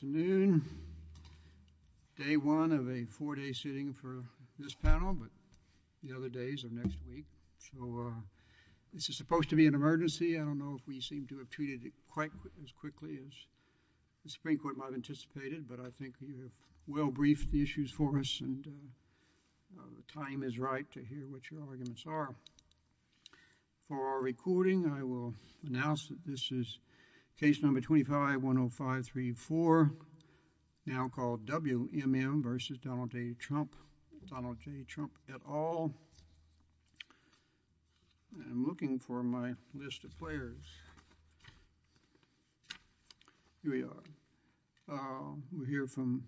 Good afternoon. Day one of a four-day sitting for this panel, but the other days are next week, so this is supposed to be an emergency. I don't know if we seem to have treated it quite as quickly as the Supreme Court might have anticipated, but I think you have well briefed the issues for us, and the time is right to hear what your arguments are. For our recording, I will announce that this is case number 25-10534, now called W.M.M. v. Donald J. Trump, Donald J. Trump et al. I'm looking for my list of players. Here we are. We'll hear from,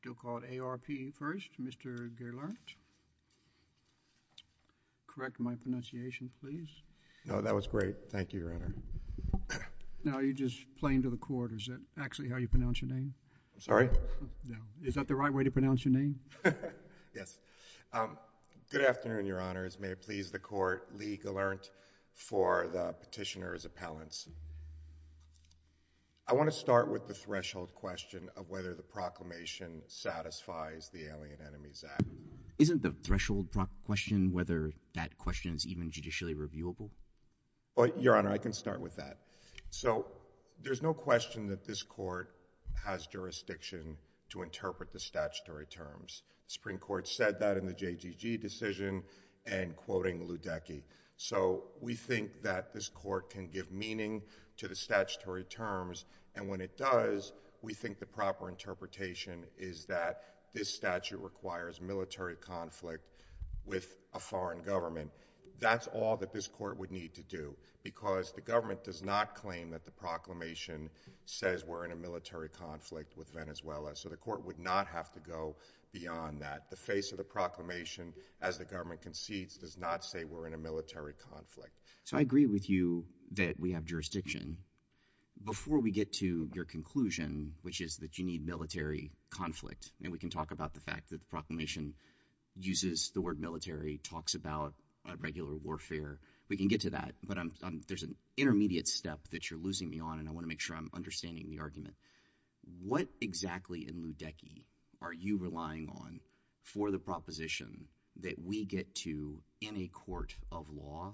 still called A.R.P. first, Mr. Gerlert. Correct my pronunciation, please. No, that was great. Thank you, Your Honor. Now, are you just playing to the court, or is that actually how you pronounce your name? I'm sorry? No. Is that the right way to pronounce your name? Yes. Good afternoon, Your Honors. May it please the Court, Lee Gerlert for the petitioner's appellants. I want to start with the threshold question of whether the proclamation satisfies the Alien Enemies Act. Isn't the threshold question whether that question is even judicially reviewable? Your Honor, I can start with that. There's no question that this court has jurisdiction to interpret the statutory terms. The Supreme Court said that in the JGG decision and quoting Ludecky. We think that this court can give meaning to the statutory terms, and when it does, we think the proper interpretation is that this statute requires military conflict with a foreign government. That's all that this court would need to do, because the government does not claim that the proclamation says we're in a military conflict with Venezuela. So the court would not have to go beyond that. The face of the proclamation, as the government concedes, does not say we're in a military conflict. So I agree with you that we have jurisdiction. Before we get to your conclusion, which is that you need military conflict, and we can talk about the fact that the proclamation uses the word military, talks about regular warfare. We can get to that, but there's an intermediate step that you're losing me on, and I want to make sure I'm understanding the argument. What exactly in Ludecky are you relying on for the proposition that we get to, in a court of law,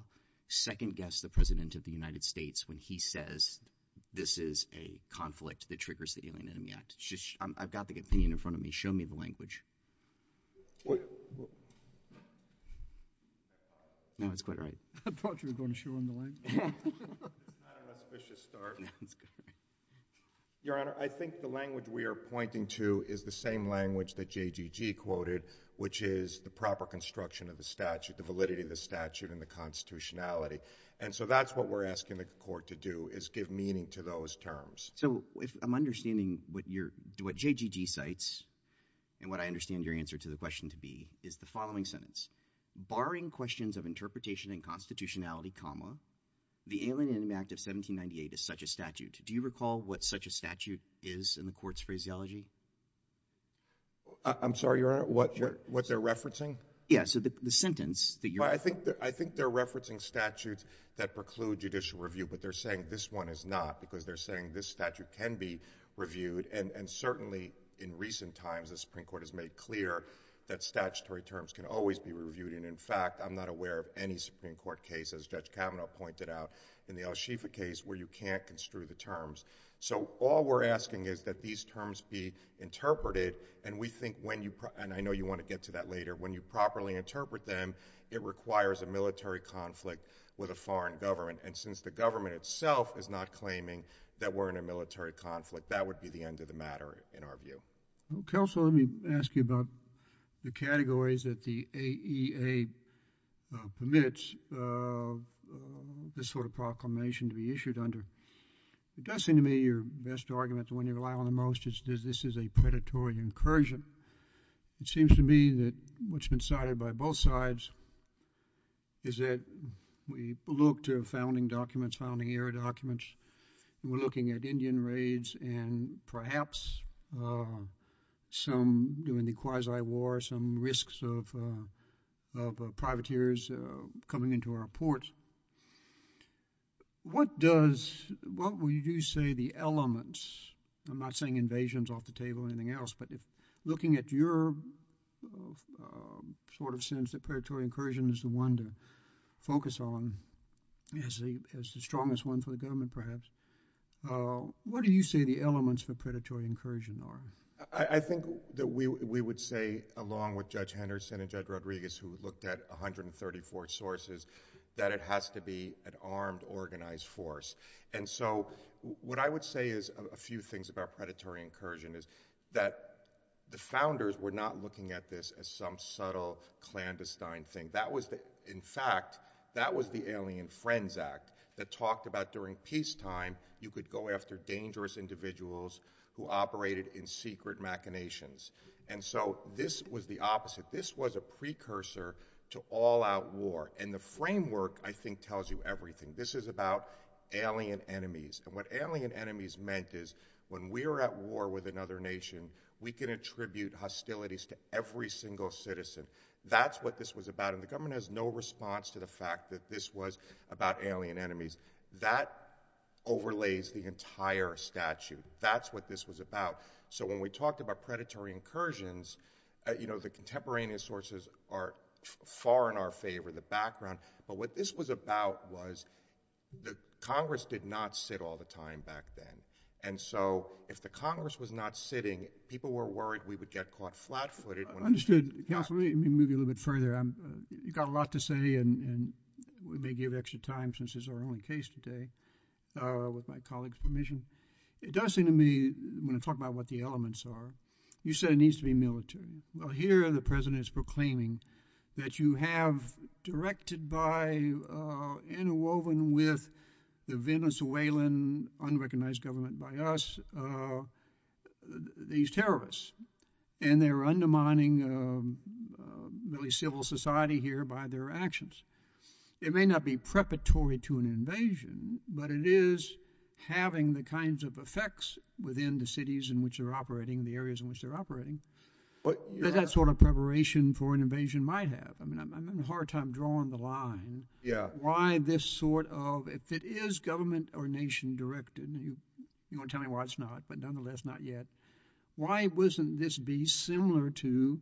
second-guess the President of the United States when he says this is a conflict that triggers the Alien Enemy Act? I've got the opinion in front of me. Show me the language. No, it's quite right. I thought you were going to show him the language. Your Honor, I think the language we are pointing to is the same language that JGG quoted, which is the proper construction of the statute, the validity of the statute, and the constitutionality. And so that's what we're asking the court to do, is give meaning to those terms. So if I'm understanding what JGG cites, and what I understand your answer to the question to be, is the following sentence. Barring questions of interpretation and constitutionality, the Alien Enemy Act of 1798 is such a statute. Do you recall what such a statute is in the court's phraseology? I'm sorry, Your Honor, what they're referencing? Yeah, so the sentence that you're referencing. I think they're referencing statutes that preclude judicial review, but they're saying this one is not, because they're saying this statute can be reviewed. And certainly, in recent times, the Supreme Court has made clear that statutory terms can always be reviewed. And in fact, I'm not aware of any Supreme Court case, as Judge Kavanaugh pointed out, in the El Shifa case, where you can't construe the terms. So all we're asking is that these terms be interpreted. And we think when you, and I know you want to get to that later, when you properly interpret them, it requires a military conflict with a foreign government. And since the government itself is not claiming that we're in a military conflict, that would be the end of the matter, in our view. Counsel, let me ask you about the categories that the AEA permits this sort of proclamation to be issued under. It does seem to me your best argument to when you rely on the most is this is a predatory incursion. It seems to me that what's been cited by both sides is that we look to founding documents, founding era documents. We're looking at Indian raids and perhaps some during the Kwazii War, some risks of privateers coming into our ports. What does, what would you say the elements, I'm not saying invasions off the table or anything else, but if looking at your sort of sense that predatory incursion is the one to focus on as the strongest one for the government perhaps, what do you say the elements for predatory incursion are? I think that we would say, along with Judge Henderson and Judge Rodriguez, who looked at 134 sources, that it has to be an armed, organized force. And so what I would say is a few things about predatory incursion is that the founders were not looking at this as some subtle clandestine thing. That was the, in fact, that was the Alien Friends Act that talked about during peacetime you could go after dangerous individuals who operated in secret machinations. And so this was the opposite. This was a precursor to all-out war. And the framework I think tells you everything. This is alien enemies. And what alien enemies meant is when we were at war with another nation, we can attribute hostilities to every single citizen. That's what this was about. And the government has no response to the fact that this was about alien enemies. That overlays the entire statute. That's what this was about. So when we talked about predatory incursions, you know, the contemporaneous sources are far in our favor, the background. But what this was about was the Congress did not sit all the time back then. And so if the Congress was not sitting, people were worried we would get caught flat-footed. I understood. Counselor, let me move you a little bit further. You've got a lot to say, and we may give you extra time since this is our only case today with my colleague's permission. It does seem to me when I talk about what the elements are, you said it needs to be military. Well, here the President is proclaiming that you have directed by interwoven with the Venezuelan unrecognized government by us, these terrorists. And they're undermining really civil society here by their actions. It may not be preparatory to an invasion, but it is having the kinds of effects within the cities in which they're operating, the areas in which they're operating, that sort of preparation for an invasion might have. I mean, I'm having a hard time drawing the line. Why this sort of, if it is government or nation-directed, you're going to tell me why it's not, but nonetheless, not yet. Why wouldn't this be similar to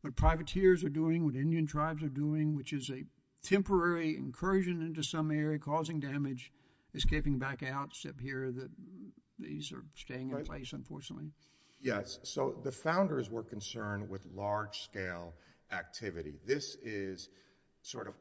what privateers are doing, what Indian tribes are doing, which is a temporary incursion into some area, causing damage, escaping back out, except here that these are staying in place, unfortunately? Yes. So the founders were concerned with large scale activity. This is sort of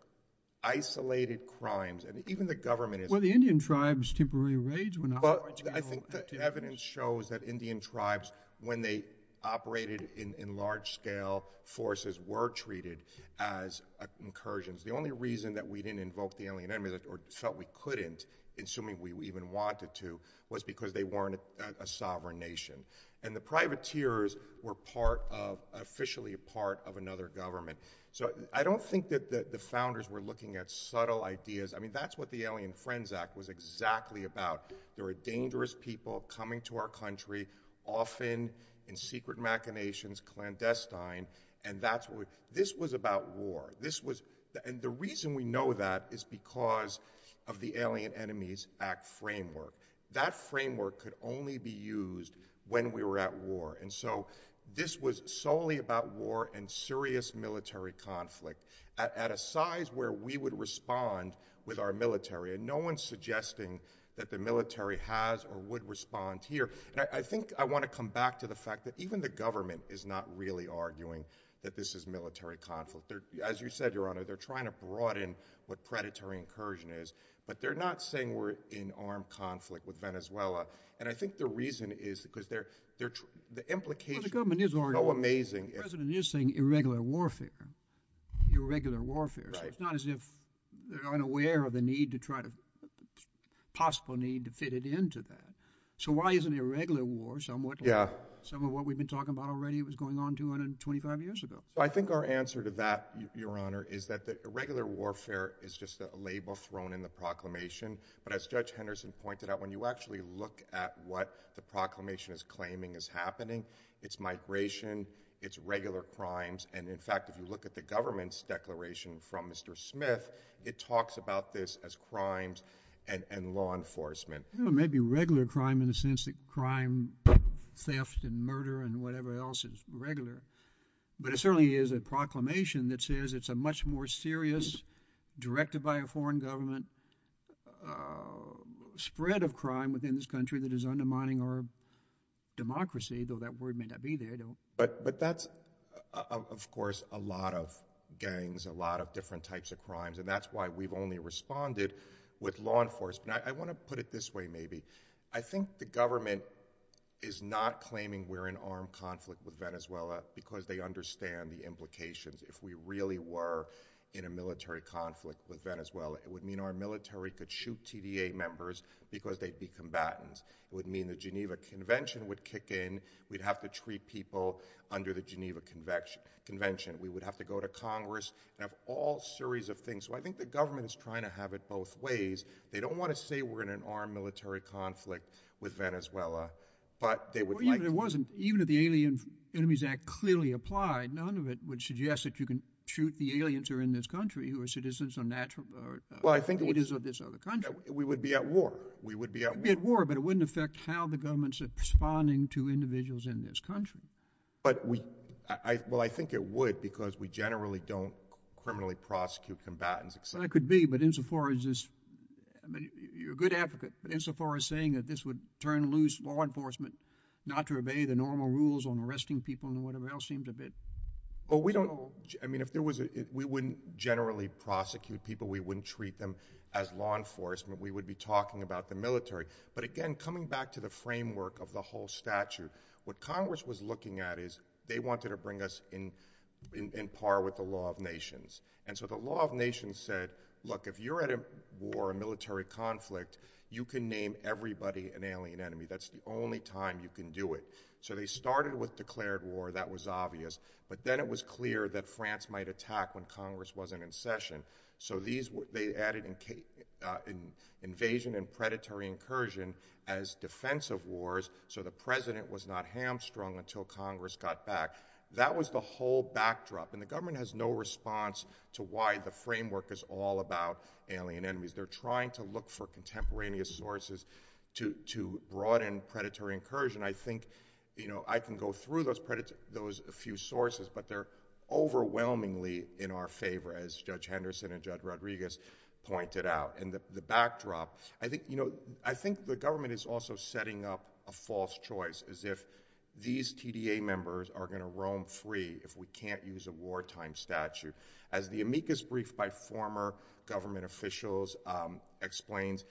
isolated crimes, and even the government is— Well, the Indian tribes temporarily rage when— But I think the evidence shows that Indian tribes, when they operated in large scale forces, were treated as incursions. The only reason that we didn't invoke the alien enemy, or felt we couldn't, assuming we even wanted to, was because they weren't a sovereign nation. And the privateers were officially a part of another government. So I don't think that the founders were looking at subtle ideas. I mean, that's what the Alien Friends Act was exactly about. There were dangerous people coming to our country, often in secret machinations, clandestine, and this was about war. And the reason we know that is because of the Alien not saying that the alien enemy has to be used when we were at war. And so this was solely about war and serious military conflict at a size where we would respond with our military. And no one's suggesting that the military has or would respond here. And I think I want to come back to the fact that even the government is not really arguing that this is military conflict. As you said, Your Honor, they're trying to broaden what predatory incursion is, but they're not saying we're in armed conflict with Venezuela. And I think the reason is because they're, the implication is so amazing. President is saying irregular warfare, irregular warfare. It's not as if they're unaware of the need to try to possible need to fit it into that. So why isn't irregular war somewhat? Some of what we've been talking about already, it was going on 225 years ago. I think our answer to that, Your Honor, is that the irregular warfare is just a label thrown in the proclamation. But as Judge Henderson pointed out, when you actually look at what the proclamation is claiming is happening, it's migration, it's regular crimes. And in fact, if you look at the government's declaration from Mr. Smith, it talks about this as crimes and law enforcement. Maybe regular crime in the sense that crime, theft and murder and whatever else is regular. But it certainly is a proclamation that says it's a much more serious, directed by a foreign government, spread of crime within this country that is undermining our democracy, though that word may not be there. But that's, of course, a lot of gangs, a lot of different types of crimes. And that's why we've only responded with law enforcement. I want to put it this way, maybe. I think the government is not claiming we're in armed conflict with Venezuela because they understand the implications. If we really were in a military conflict with Venezuela, it would mean our military could shoot TDA members because they'd be combatants. It would mean the Geneva Convention would kick in. We'd have to treat people under the Geneva Convention. We would have to go to Congress and have all series of things. So I think the government is trying to have it both ways. They don't want to say we're in an armed military conflict with Venezuela, but they would like to... Well, even if it wasn't, even if the Alien Enemies Act clearly applied, none of it would suggest that you can shoot the aliens who are in this country who are citizens of this other country. We would be at war. We would be at war, but it wouldn't affect how the government's responding to individuals in this country. Well, I think it would because we generally don't criminally prosecute combatants, et cetera. That could be, but insofar as this... You're a good advocate, but insofar as saying that this would turn loose law enforcement not to obey the normal rules on arresting people and whatever else seems a bit... We wouldn't generally prosecute people. We wouldn't treat them as law enforcement. We would be talking about the military. But again, coming back to the framework of the whole statute, what Congress was looking at is they wanted to bring us in par with the law of nations. The law of nations said, look, if you're at a war, a military conflict, you can name everybody an alien enemy. That's the only time you can do it. They started with declared war, that was obvious, but then it was clear that France might attack when Congress wasn't in session. They added invasion and predatory incursion as defensive wars so the president was not hamstrung until Congress got back. That was the whole backdrop. The government has no response to why the framework is all about alien enemies. They're trying to look for contemporaneous sources to broaden predatory incursion. I think I can go through those few sources, but they're overwhelmingly in our favor as Judge Henderson and Judge Rodriguez pointed out. The backdrop, I think the government is also setting up a false choice as if these TDA members are going to roam free if we can't use a wartime statute. As the amicus brief by former government officials explains,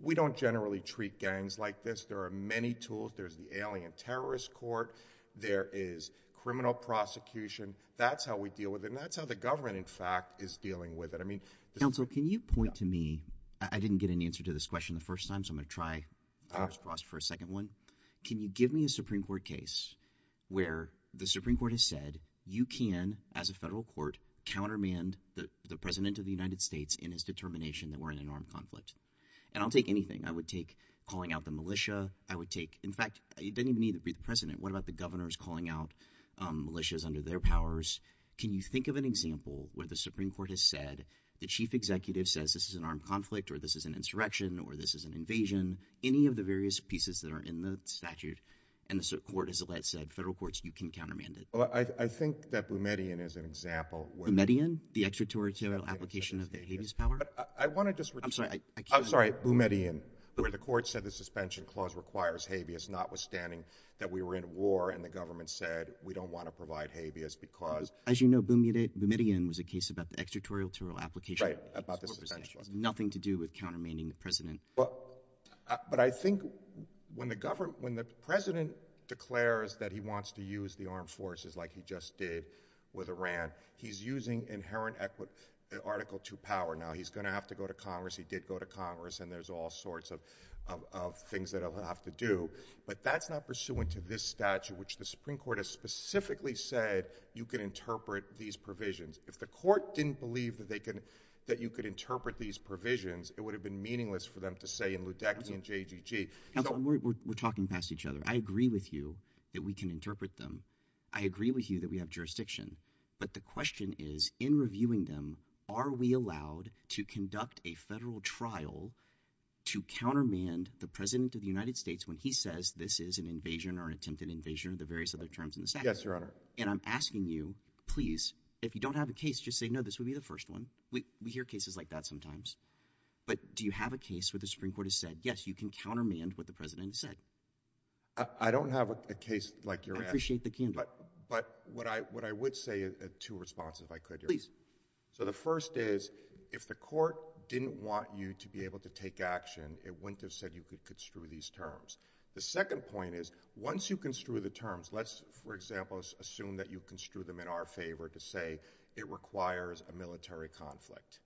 we don't generally treat gangs like this. There are many tools. There's the alien terrorist court. There is criminal prosecution. That's how we deal with them. That's how the government, in fact, is dealing with it. I mean- Counsel, can you point to me, I didn't get an answer to this question the first time so I'm where the Supreme Court has said you can, as a federal court, countermand the president of the United States in his determination that we're in an armed conflict. I'll take anything. I would take calling out the militia. I would take, in fact, it doesn't even need to be the president. What about the governors calling out militias under their powers? Can you think of an example where the Supreme Court has said the chief executive says this is an armed conflict or this is an insurrection or this is an invasion? Any of the various pieces that are in the statute and the court has said, federal courts, you can countermand it. Well, I think that Boumediene is an example where- Boumediene? The extraterritorial application of the habeas power? I want to just- I'm sorry, I can't- I'm sorry, Boumediene, where the court said the suspension clause requires habeas notwithstanding that we were in a war and the government said we don't want to provide habeas because- As you know, Boumediene was a case about the extraterritorial application- Right, about the suspension. It has nothing to do with countermanding the president. But I think when the president declares that he wants to use the armed forces like he just did with Iran, he's using inherent article two power. Now, he's going to have to go to Congress, he did go to Congress, and there's all sorts of things that he'll have to do, but that's not pursuant to this statute, which the Supreme Court has specifically said you can interpret these provisions. If the court didn't believe that you could interpret these provisions, it would have been meaningless for them to say in Ludecky and JGG. Counselor, we're talking past each other. I agree with you that we can interpret them. I agree with you that we have jurisdiction. But the question is, in reviewing them, are we allowed to conduct a federal trial to countermand the president of the United States when he says this is an invasion or an attempted invasion of the various other terms in the statute? Yes, your honor. And I'm asking you, please, if you don't have a case, just say no, this would be the first one. We hear cases like that sometimes. But do you have a case where the Supreme Court has said, yes, you can countermand what the president said? I don't have a case like yours. I appreciate the candor. But what I would say, two responses, if I could, your honor. Please. So the first is, if the court didn't want you to be able to take action, it wouldn't have said you could construe these terms. The second point is, once you construe the terms, let's, for example, assume that you construe them in our favor to say it requires a military conflict.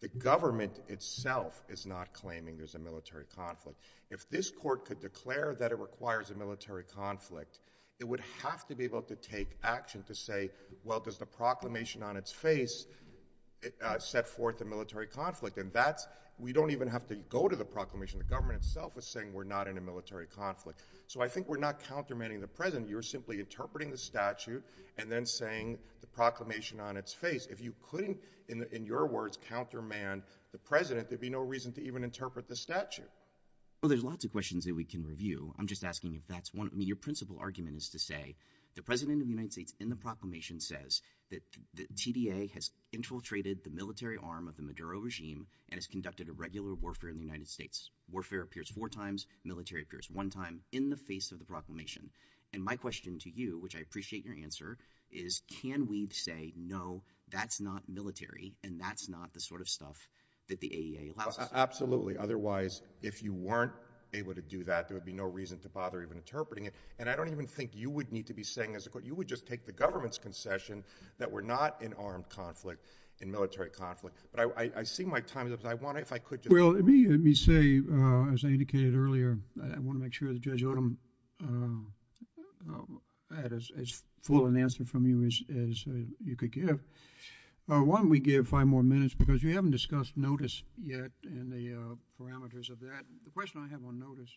The government itself is not claiming there's a military conflict. If this court could declare that it requires a military conflict, it would have to be able to take action to say, well, does the proclamation on its face set forth a military conflict? And that's, we don't even have to go to the proclamation. The government itself is saying we're not in a military conflict. So I think we're not countermanding the president. You're If you couldn't, in your words, countermand the president, there'd be no reason to even interpret the statute. Well, there's lots of questions that we can review. I'm just asking if that's one. I mean, your principal argument is to say the president of the United States in the proclamation says that the TDA has infiltrated the military arm of the Maduro regime and has conducted a regular warfare in the United States. Warfare appears four times. Military appears one time in the face of the proclamation. And my question to you, which I appreciate your answer, is can we say, no, that's not military, and that's not the sort of stuff that the AEA allows. Absolutely. Otherwise, if you weren't able to do that, there would be no reason to bother even interpreting it. And I don't even think you would need to be saying this. You would just take the government's concession that we're not in armed conflict, in military conflict. But I see my time is up. I want to, if I could just Well, let me say, as I indicated earlier, I want to make sure that Judge Odom had as full an answer from you as you could give. Why don't we give five more minutes, because we haven't discussed notice yet and the parameters of that. The question I have on notice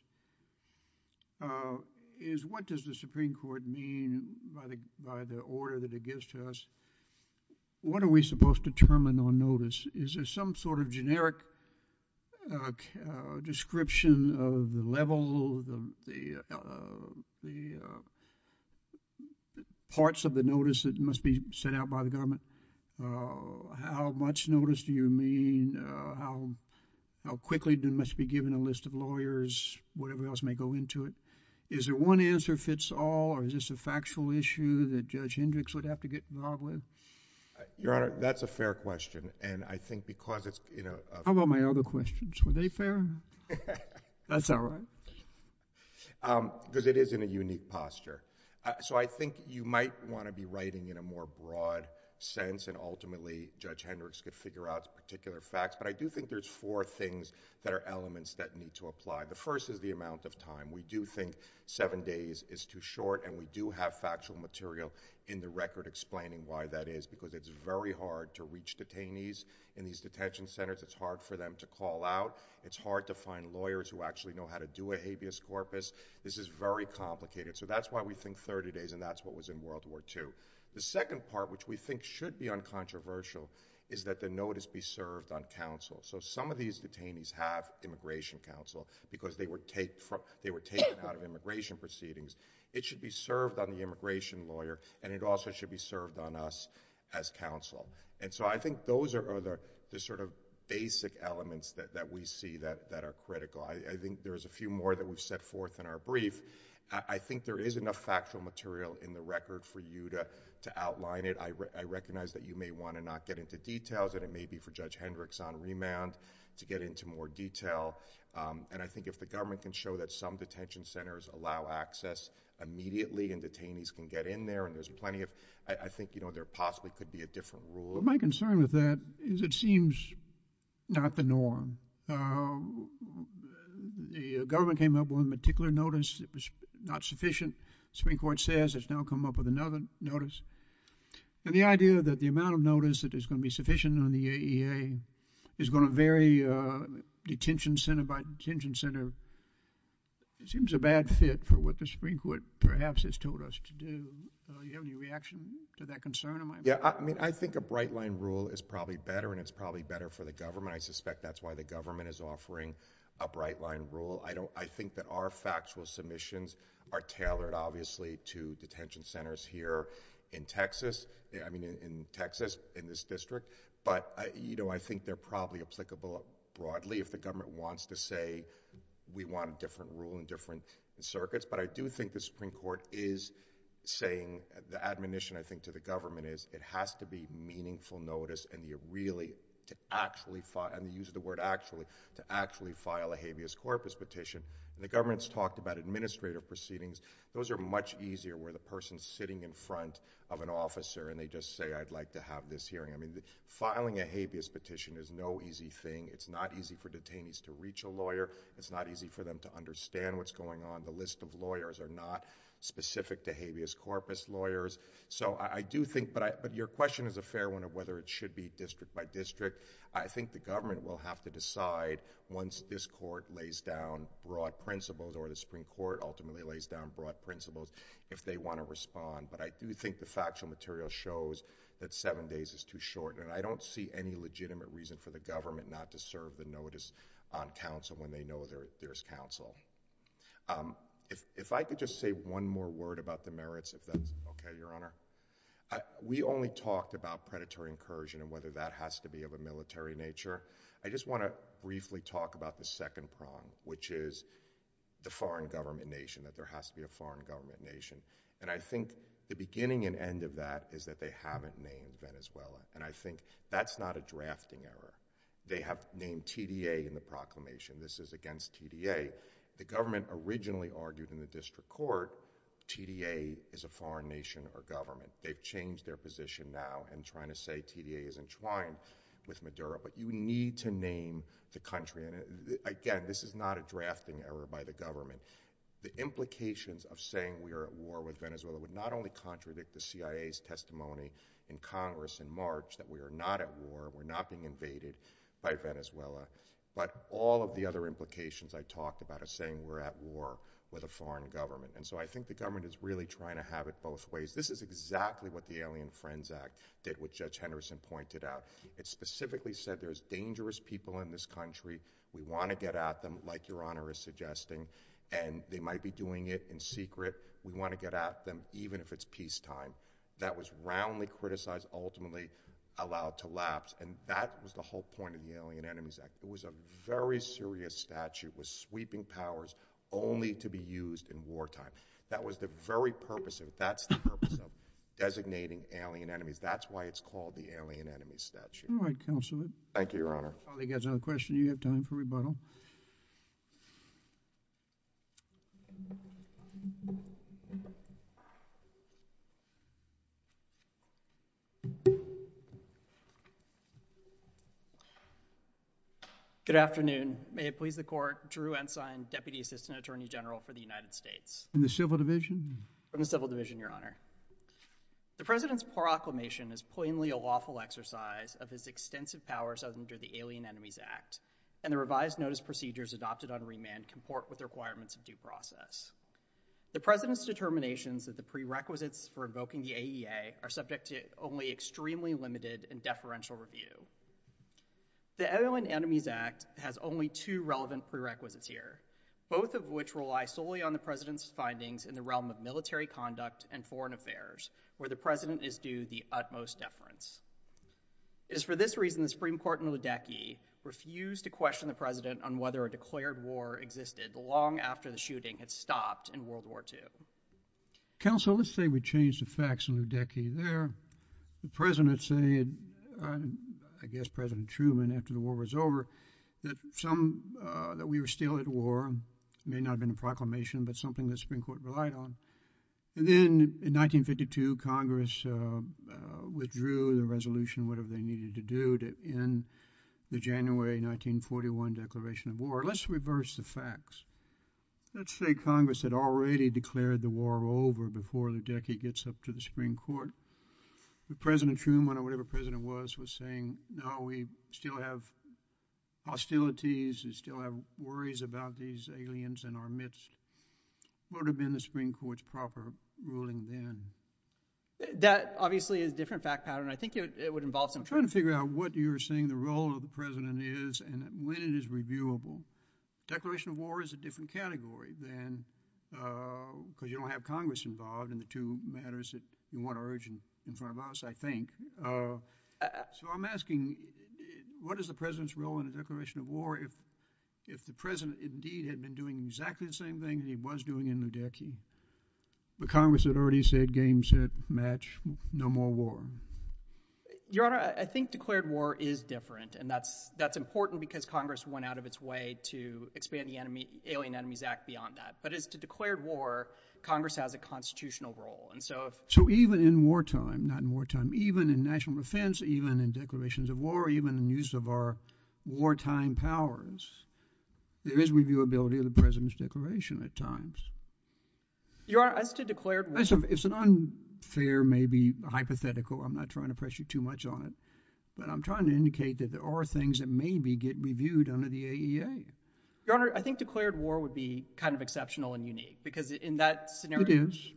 is what does the Supreme Court mean by the order that it gives to us? What are we supposed to determine on notice? Is there some sort of generic description of the level, the parts of the notice that must be sent out by the government? How much notice do you mean? How quickly must it be given a list of lawyers, whatever else may go into it? Is there one answer if it's all, or is this a factual issue that Judge Hendricks would have to get involved with? Your Honor, that's a fair question. And I think because it's How about my other questions? Were they fair? That's all right. Because it is in a unique posture. So I think you might want to be writing in a more broad sense and ultimately Judge Hendricks could figure out particular facts. But I do think there's four things that are elements that need to apply. The first is the amount of time. We do think seven days is too short and we do have factual material in the record explaining why that is, because it's very hard to reach detainees in these detention centers. It's hard for them to call out. It's hard to find lawyers who actually know how to do a habeas corpus. This is very complicated. So that's why we think 30 days and that's what was in World War II. The second part, which we think should be uncontroversial, is that the notice be served on counsel. So some of these detainees have immigration counsel because they were taken out of immigration proceedings. It should be served on the immigration lawyer and it also should be served on us as counsel. So I think those are the sort of basic elements that we see that are critical. I think there's a few more that we've set forth in our brief. I think there is enough factual material in the record for you to outline it. I recognize that you may want to not get into details and it may be for Judge Hendricks on remand to get into more detail. And I think if the government can show that some detention centers allow access immediately and detainees can get in there and there's plenty of, I think, you know, there possibly could be a different rule. My concern with that is it seems not the norm. The government came up with a particular notice. It was not sufficient. The Supreme Court says it's now come up with another notice. And the idea that the amount of notice that is going to be sufficient on the AEA is going to vary detention center by detention center seems a bad fit for what the Supreme Court perhaps has told us to do. Do you have any reaction to that concern of mine? Yeah. I mean, I think a bright line rule is probably better and it's probably better for the government. I suspect that's why the government is offering a bright line rule. I think that our factual submissions are tailored, obviously, to detention centers here in Texas, I mean in Texas, in this district. But, you know, I think they're probably applicable broadly if the government wants to say we want a different rule in different circuits. But I do think the Supreme Court is saying, the admonition, I think, to the government is it has to be meaningful notice and you really, to actually file, and they use the word actually, to actually file a habeas corpus petition. And the government's talked about administrative proceedings. Those are much easier where the person's sitting in front of an officer and they just say, I'd like to have this hearing. I mean, it's not easy for them to understand what's going on. The list of lawyers are not specific to habeas corpus lawyers. So I do think, but your question is a fair one of whether it should be district by district. I think the government will have to decide once this court lays down broad principles or the Supreme Court ultimately lays down broad principles, if they want to respond. But I do think the factual material shows that seven days is too short. And I don't see any legitimate reason for the government not to serve the notice on counsel when they know there's counsel. If I could just say one more word about the merits, if that's okay, Your Honor. We only talked about predatory incursion and whether that has to be of a military nature. I just want to briefly talk about the second prong, which is the foreign government nation, that there has to be a foreign government nation. And I think the beginning and end of that is that they haven't named Venezuela. And I think that's not a drafting error. They have named TDA in the proclamation. This is against TDA. The government originally argued in the district court, TDA is a foreign nation or government. They've changed their position now and trying to say TDA is entwined with Maduro. But you need to name the country. And again, this is not a drafting error by the government. The implications of saying we are at war with Venezuela would not contradict the CIA's testimony in Congress in March that we are not at war, we're not being invaded by Venezuela. But all of the other implications I talked about are saying we're at war with a foreign government. And so I think the government is really trying to have it both ways. This is exactly what the Alien Friends Act did, which Judge Henderson pointed out. It specifically said there's dangerous people in this country. We want to get at them, like Your Honor is suggesting. And they might be doing it in secret. We want to get at them, even if it's peacetime. That was roundly criticized, ultimately allowed to lapse. And that was the whole point of the Alien Enemies Act. It was a very serious statute with sweeping powers only to be used in wartime. That was the very purpose of, that's the purpose of designating alien enemies. That's why it's called the Alien Enemies Statute. All right, Counselor. Thank you, Your Honor. I think that's all the questions you have time for rebuttal. Good afternoon. May it please the Court. Drew Ensign, Deputy Assistant Attorney General for the United States. From the Civil Division? From the Civil Division, Your Honor. The President's proclamation is plainly a lawful exercise of his extensive powers under the Alien Enemies Act, and the revised notice procedures adopted on remand comport with the requirements of due process. The President's determinations of the prerequisites for invoking the AEA are subject to only extremely limited and deferential review. The Alien Enemies Act has only two relevant prerequisites here, both of which rely solely on the President's findings in the realm of military conduct and foreign affairs, where the President is due the utmost deference. It is for this reason the Supreme Court in Ludecky refused to question the President on whether a declared war existed long after the shooting had stopped in World War II. Counsel, let's say we change the facts in Ludecky there. The President said, I guess President Truman after the war was over, that some, that we were still at war. It may not have been a proclamation, but something the Supreme Court relied on. And then in 1952, Congress withdrew the resolution, whatever they needed to do, to end the January 1941 declaration of war. Let's reverse the facts. Let's say Congress had already declared the war over before Ludecky gets up to the Supreme Court. But President Truman, or whatever President was, was saying, no, we still have hostilities, we still have worries about these aliens in our midst. Would have been the Supreme Court's proper ruling then. That obviously is a different fact pattern. I think it would involve some- I'm trying to figure out what you're saying the role of the President is and when it is reviewable. Declaration of war is a different category than, because you don't have Congress involved in the two matters that you want to urge in front of us, I think. So I'm asking, what is the President's role in the declaration of war if the President indeed had been doing exactly the same thing that he was doing in Ludecky, but Congress had already said game, set, match, no more war? Your Honor, I think declared war is different. And that's important because Congress went out of its way to expand the Alien Enemies Act beyond that. But as to declared war, Congress has a constitutional role. So even in wartime, not in wartime, even in national defense, even in declarations of war, even in use of our time powers, there is reviewability of the President's declaration at times. Your Honor, as to declared war- It's an unfair, maybe hypothetical, I'm not trying to press you too much on it, but I'm trying to indicate that there are things that maybe get reviewed under the AEA. Your Honor, I think declared war would be kind of exceptional and unique because in that scenario- It is.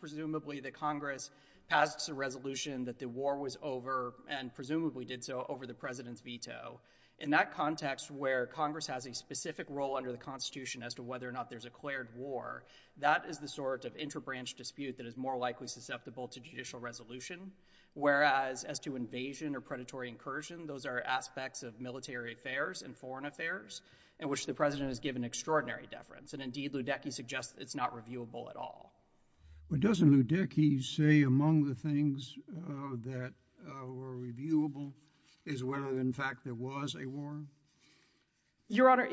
Presumably the Congress passed a resolution that the war was over and presumably did so over the President's veto. In that context where Congress has a specific role under the Constitution as to whether or not there's a declared war, that is the sort of interbranch dispute that is more likely susceptible to judicial resolution, whereas as to invasion or predatory incursion, those are aspects of military affairs and foreign affairs in which the President has given extraordinary deference. And indeed, Ludecky suggests it's not reviewable at all. But doesn't Ludecky say among the things that were reviewable is whether in fact there was a war? Your Honor,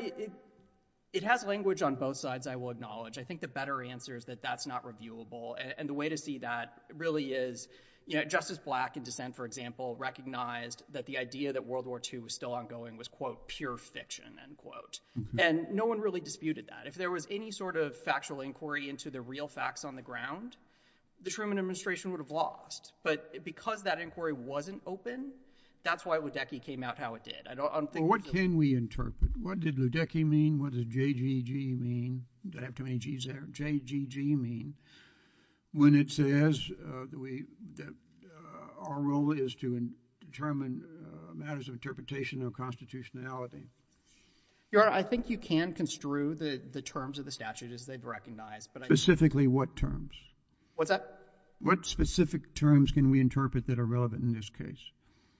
it has language on both sides, I will acknowledge. I think the better answer is that that's not reviewable. And the way to see that really is, Justice Black in dissent, for example, recognized that the idea that World War II was still ongoing was, quote, pure fiction, end quote. And no one really disputed that. If there was any sort of factual inquiry into the real facts on the ground, the Truman administration would have lost. But because that inquiry wasn't open, that's why Ludecky came out how it did. I don't think... Well, what can we interpret? What did Ludecky mean? What does JGG mean? Did I have too many G's there? JGG mean, when it says that our role is to determine matters of interpretation or constitutionality. Your Honor, I think you can construe the terms of the statute as they've recognized. Specifically what terms? What's that? What specific terms can we interpret that are relevant in this case?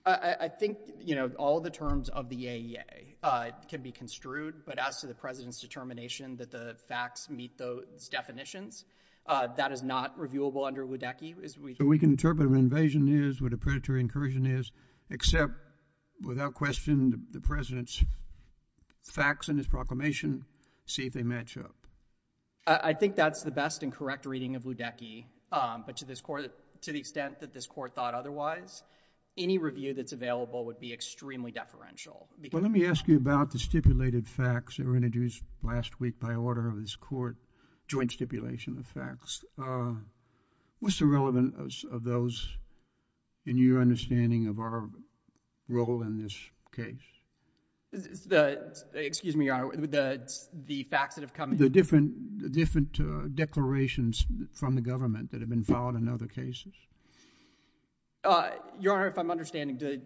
I think all the terms of the AEA can be construed, but as to the President's determination that the facts meet those definitions, that is not reviewable under Ludecky. So we can interpret what an invasion is, what a predatory incursion is, except without question, the President's facts in his proclamation see if they match up. I think that's the best and correct reading of Ludecky, but to the extent that this Court thought otherwise, any review that's available would be extremely deferential. Well, let me ask you about the stipulated facts that were introduced last week by order of this Court, joint stipulation of facts. What's the relevance of those in your understanding of our role in this case? Excuse me, Your Honor, the facts that have come in. The different declarations from the government that have been filed in other cases? Your Honor, if I'm understanding, did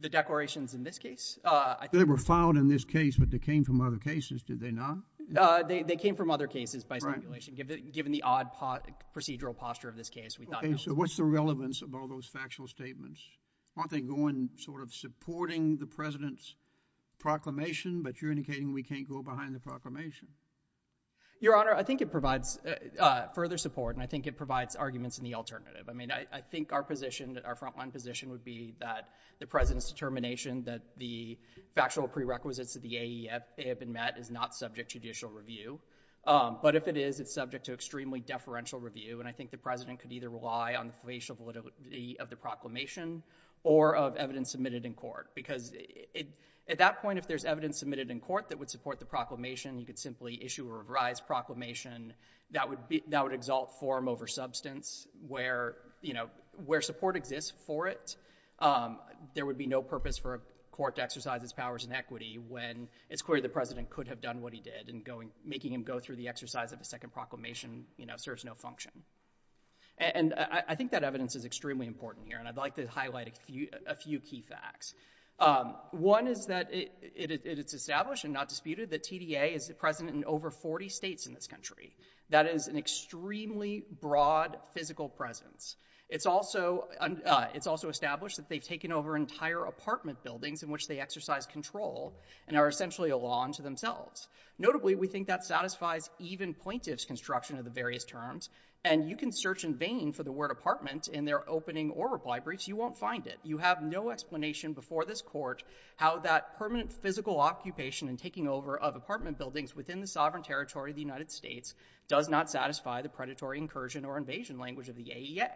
the declarations in this case? They were filed in this case, but they came from other cases, did they not? They came from other cases by stipulation, given the odd procedural posture of this case. Okay, so what's the relevance of all those factual statements? Aren't they going sort of supporting the President's proclamation, but you're indicating we can't go behind the proclamation? Your Honor, I think it provides further support, and I think it provides arguments in the alternative. I mean, I think our position, our frontline position would be that the President's determination that the factual prerequisites of the AEF have been met is not subject to judicial review, but if it is, it's subject to extremely deferential review, and I think the President could either rely on the facial validity of the proclamation or of evidence submitted in court, because at that point, if there's evidence submitted in court that would support the proclamation, you could simply issue a revised proclamation that would exalt form over substance, where, you know, where support exists for it, there would be no purpose for a court to exercise powers in equity when it's clear the President could have done what he did, and making him go through the exercise of a second proclamation, you know, serves no function. And I think that evidence is extremely important here, and I'd like to highlight a few key facts. One is that it's established and not disputed that TDA is present in over 40 states in this country. That is an extremely broad physical presence. It's also established that they've taken over apartment buildings in which they exercise control, and are essentially a law unto themselves. Notably, we think that satisfies even plaintiff's construction of the various terms, and you can search in vain for the word apartment in their opening or reply briefs, you won't find it. You have no explanation before this court how that permanent physical occupation and taking over of apartment buildings within the sovereign territory of the United States does not satisfy the predatory incursion or invasion language of the AEA,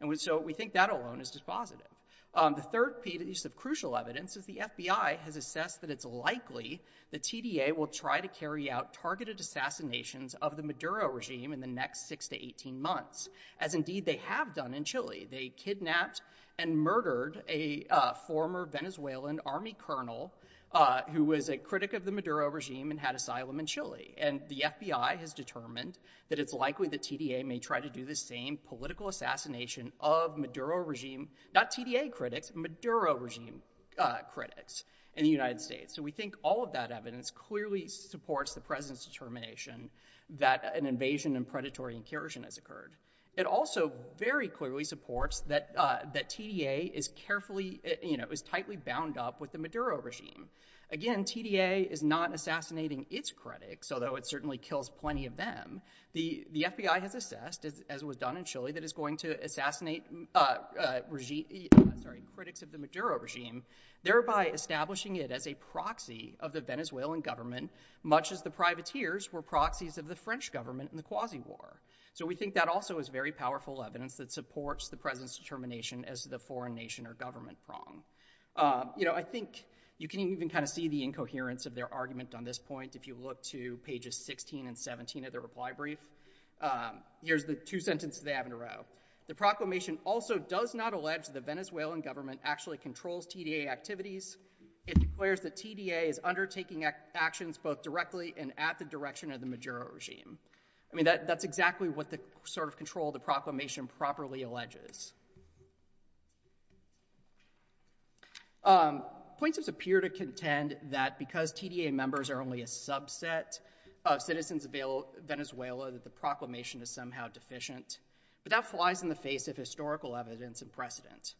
and so we think that alone is dispositive. The third piece of crucial evidence is the FBI has assessed that it's likely the TDA will try to carry out targeted assassinations of the Maduro regime in the next six to 18 months, as indeed they have done in Chile. They kidnapped and murdered a former Venezuelan army colonel who was a critic of the Maduro regime and had asylum in Chile, and the FBI has determined that it's likely the TDA may try to do the same political assassination of Maduro regime, not TDA critics, Maduro regime critics in the United States, so we think all of that evidence clearly supports the president's determination that an invasion and predatory incursion has occurred. It also very clearly supports that TDA is carefully, you know, is tightly bound up with the Maduro regime. Again, TDA is not assassinating its critics, although it certainly kills plenty of them. The FBI has assessed, as was done in Chile, that it's going to assassinate regime, sorry, critics of the Maduro regime, thereby establishing it as a proxy of the Venezuelan government, much as the privateers were proxies of the French government in the Quasi-War, so we think that also is very powerful evidence that supports the president's determination as the foreign nation or government prong. You know, I think you can even kind of see the incoherence of their argument on this point if you look to pages 16 and 17 of the reply brief. Here's the two sentences they have in a row. The proclamation also does not allege the Venezuelan government actually controls TDA activities. It declares that TDA is undertaking actions both directly and at the direction of the Maduro regime. I mean, that's exactly what the sort of control the proclamation properly alleges. Um, plaintiffs appear to contend that because TDA members are only a subset of citizens of Venezuela, that the proclamation is somehow deficient, but that flies in the face of historical evidence and precedent.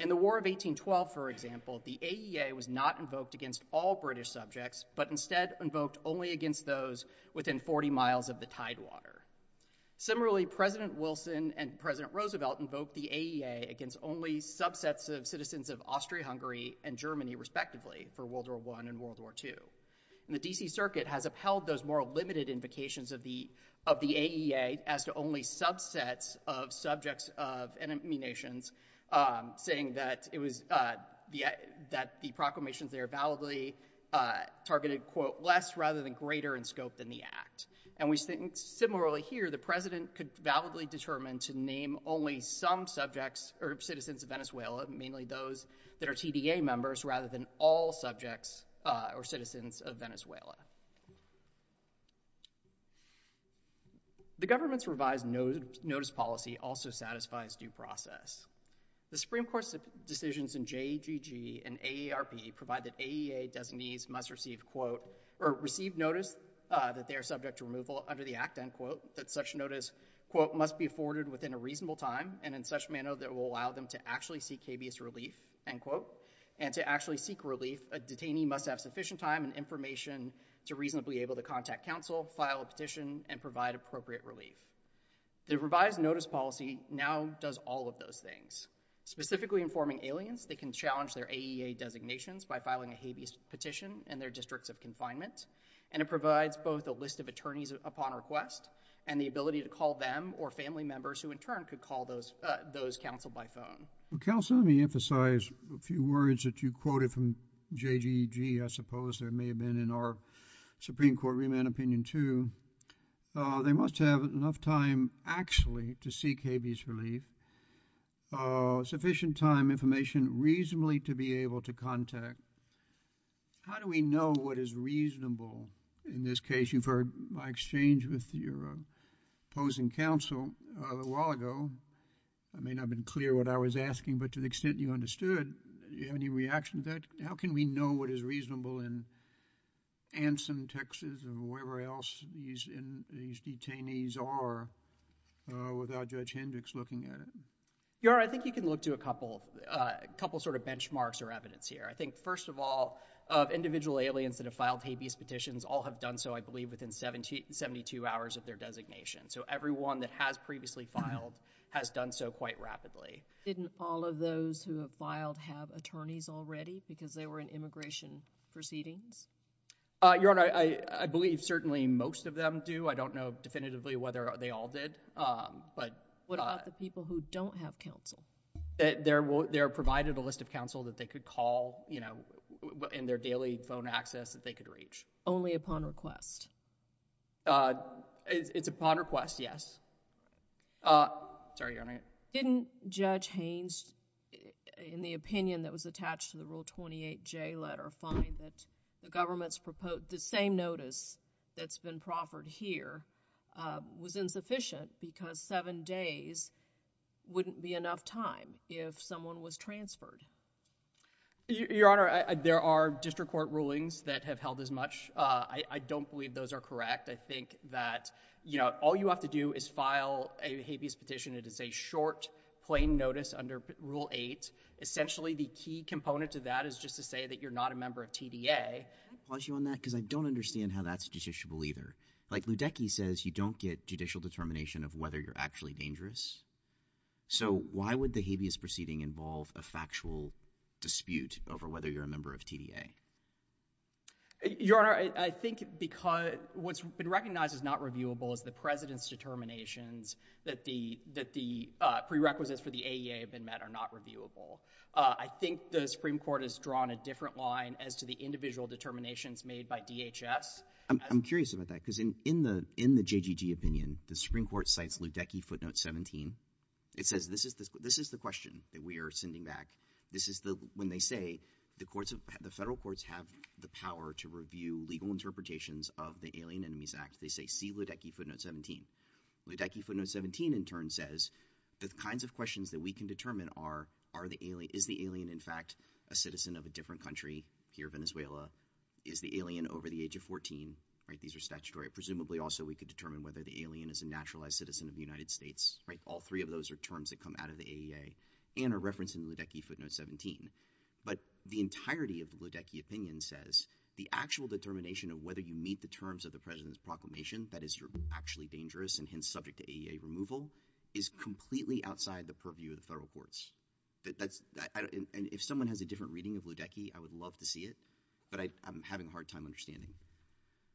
In the War of 1812, for example, the AEA was not invoked against all British subjects, but instead invoked only against those within 40 miles of the tidewater. Similarly, President Wilson and President Roosevelt invoked the AEA against only subsets of citizens of Austria, Hungary, and Germany, respectively, for World War I and World War II. And the DC Circuit has upheld those more limited invocations of the, of the AEA as to only subsets of subjects of enemy nations, um, saying that it was, uh, the, that the proclamations there validly, uh, targeted, quote, less rather than greater in scope than the act. And we think similarly here, the president could validly determine to name only some subjects or citizens of Venezuela, mainly those that are TDA members rather than all subjects, uh, or citizens of Venezuela. The government's revised notice policy also satisfies due process. The Supreme Court's decisions in JGG and AARP provide that AEA designees must receive, quote, or receive notice, uh, that they are subject to removal under the act, end quote, that such notice, quote, must be afforded within a reasonable time and in such manner that will allow them to actually seek habeas relief, end quote, and to actually seek relief, a detainee must have sufficient time and information to reasonably able to contact counsel, file a petition, and provide appropriate relief. The revised notice policy now does all of those things. Specifically informing aliens, they can challenge their AEA designations by filing a habeas petition in their districts of confinement, and it provides both a list of attorneys upon request and the ability to call them or family members who in turn could call those, uh, those counsel by phone. Well, counsel, let me emphasize a few words that you quoted from JGG. I suppose there may have been in our Supreme Court remand opinion too. Uh, they must have enough time actually to seek habeas relief, uh, sufficient time, information, reasonably to be able to contact. How do we know what is reasonable in this case? You've heard my exchange with your, uh, opposing counsel, uh, a while ago. I may not have been clear what I was asking, but to the extent you understood, do you have any reaction to that? How can we know what is reasonable in Anson, Texas and wherever else these, in, these detainees are, uh, without Judge Hendricks looking at it? Your Honor, I think you can look to a couple, uh, couple sort of benchmarks or evidence here. I think first of all, uh, individual aliens that have filed habeas petitions all have done so, I believe, within 17, 72 hours of their designation. So everyone that has previously filed has done so quite rapidly. Didn't all of those who have filed have attorneys already because they were in immigration proceedings? Uh, Your Honor, I, I, I believe certainly most of them do. I don't know definitively whether they all did, um, but, uh. What about the people who don't have counsel? They're, they're provided a list of counsel that they could call, you know, in their daily phone access that they could reach. Only upon request? Uh, it's, it's upon request, yes. Uh, sorry, Your Honor. Didn't Judge Haynes, in the opinion that was attached to the Rule 28J letter, find that the government's proposed, the same notice that's been proffered here, uh, was insufficient because seven days wouldn't be enough time if someone was transferred? Your Honor, I, I, there are district court rulings that have held as much. Uh, I, I don't believe those are correct. I think that, you know, all you have to do is file a habeas petition. It is a short, plain notice under Rule 8. Essentially, the key component to that is just to say that you're not a member of TDA. Can I pause you on that? Because I don't understand how that's judiciable either. Like, Ludecky says you don't get judicial determination of whether you're actually dangerous. So, why would the habeas proceeding involve a factual dispute over whether you're a member of TDA? Your Honor, I, I think because what's been recognized as not reviewable is the President's determinations that the, that the, uh, prerequisites for the AEA have been met are not reviewable. Uh, I think the Supreme Court has drawn a different line as to the individual determinations made by DHS. I'm, I'm curious about that because in, in the, in the JGG opinion, the Supreme Court cites Ludecky footnote 17. It says this is the, this is the that we are sending back. This is the, when they say the courts of, the federal courts have the power to review legal interpretations of the Alien Enemies Act, they say see Ludecky footnote 17. Ludecky footnote 17 in turn says the kinds of questions that we can determine are, are the alien, is the alien in fact a citizen of a different country here in Venezuela? Is the alien over the age of 14? Right? These are statutory. Presumably also we could determine whether the alien is a naturalized citizen of the United States, right? All three of those are terms that come out of the AEA and are referenced in Ludecky footnote 17. But the entirety of the Ludecky opinion says the actual determination of whether you meet the terms of the president's proclamation that is actually dangerous and hence subject to AEA removal is completely outside the purview of the federal courts. That, that's, I don't, and if someone has a different reading of Ludecky, I would love to see it, but I, I'm having a hard time understanding.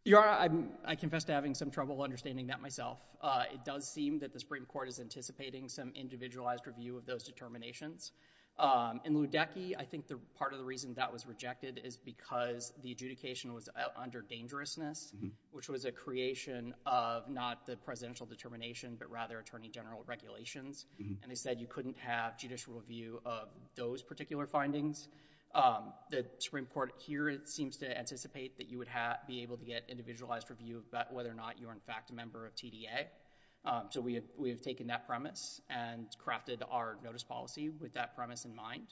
You are, I'm, I confess to having some trouble understanding that myself. Uh, it does seem that the Supreme Court is anticipating some individualized review of those determinations. Um, in Ludecky, I think the part of the reason that was rejected is because the adjudication was under dangerousness, which was a creation of not the presidential determination, but rather attorney general regulations. And they said you couldn't have judicial review of those particular findings. Um, the Supreme Court here, it seems to anticipate that you would have, be able to get individualized review about whether or not you're in fact a member of TDA. Um, so we have, we have taken that premise and crafted our notice policy with that premise in mind.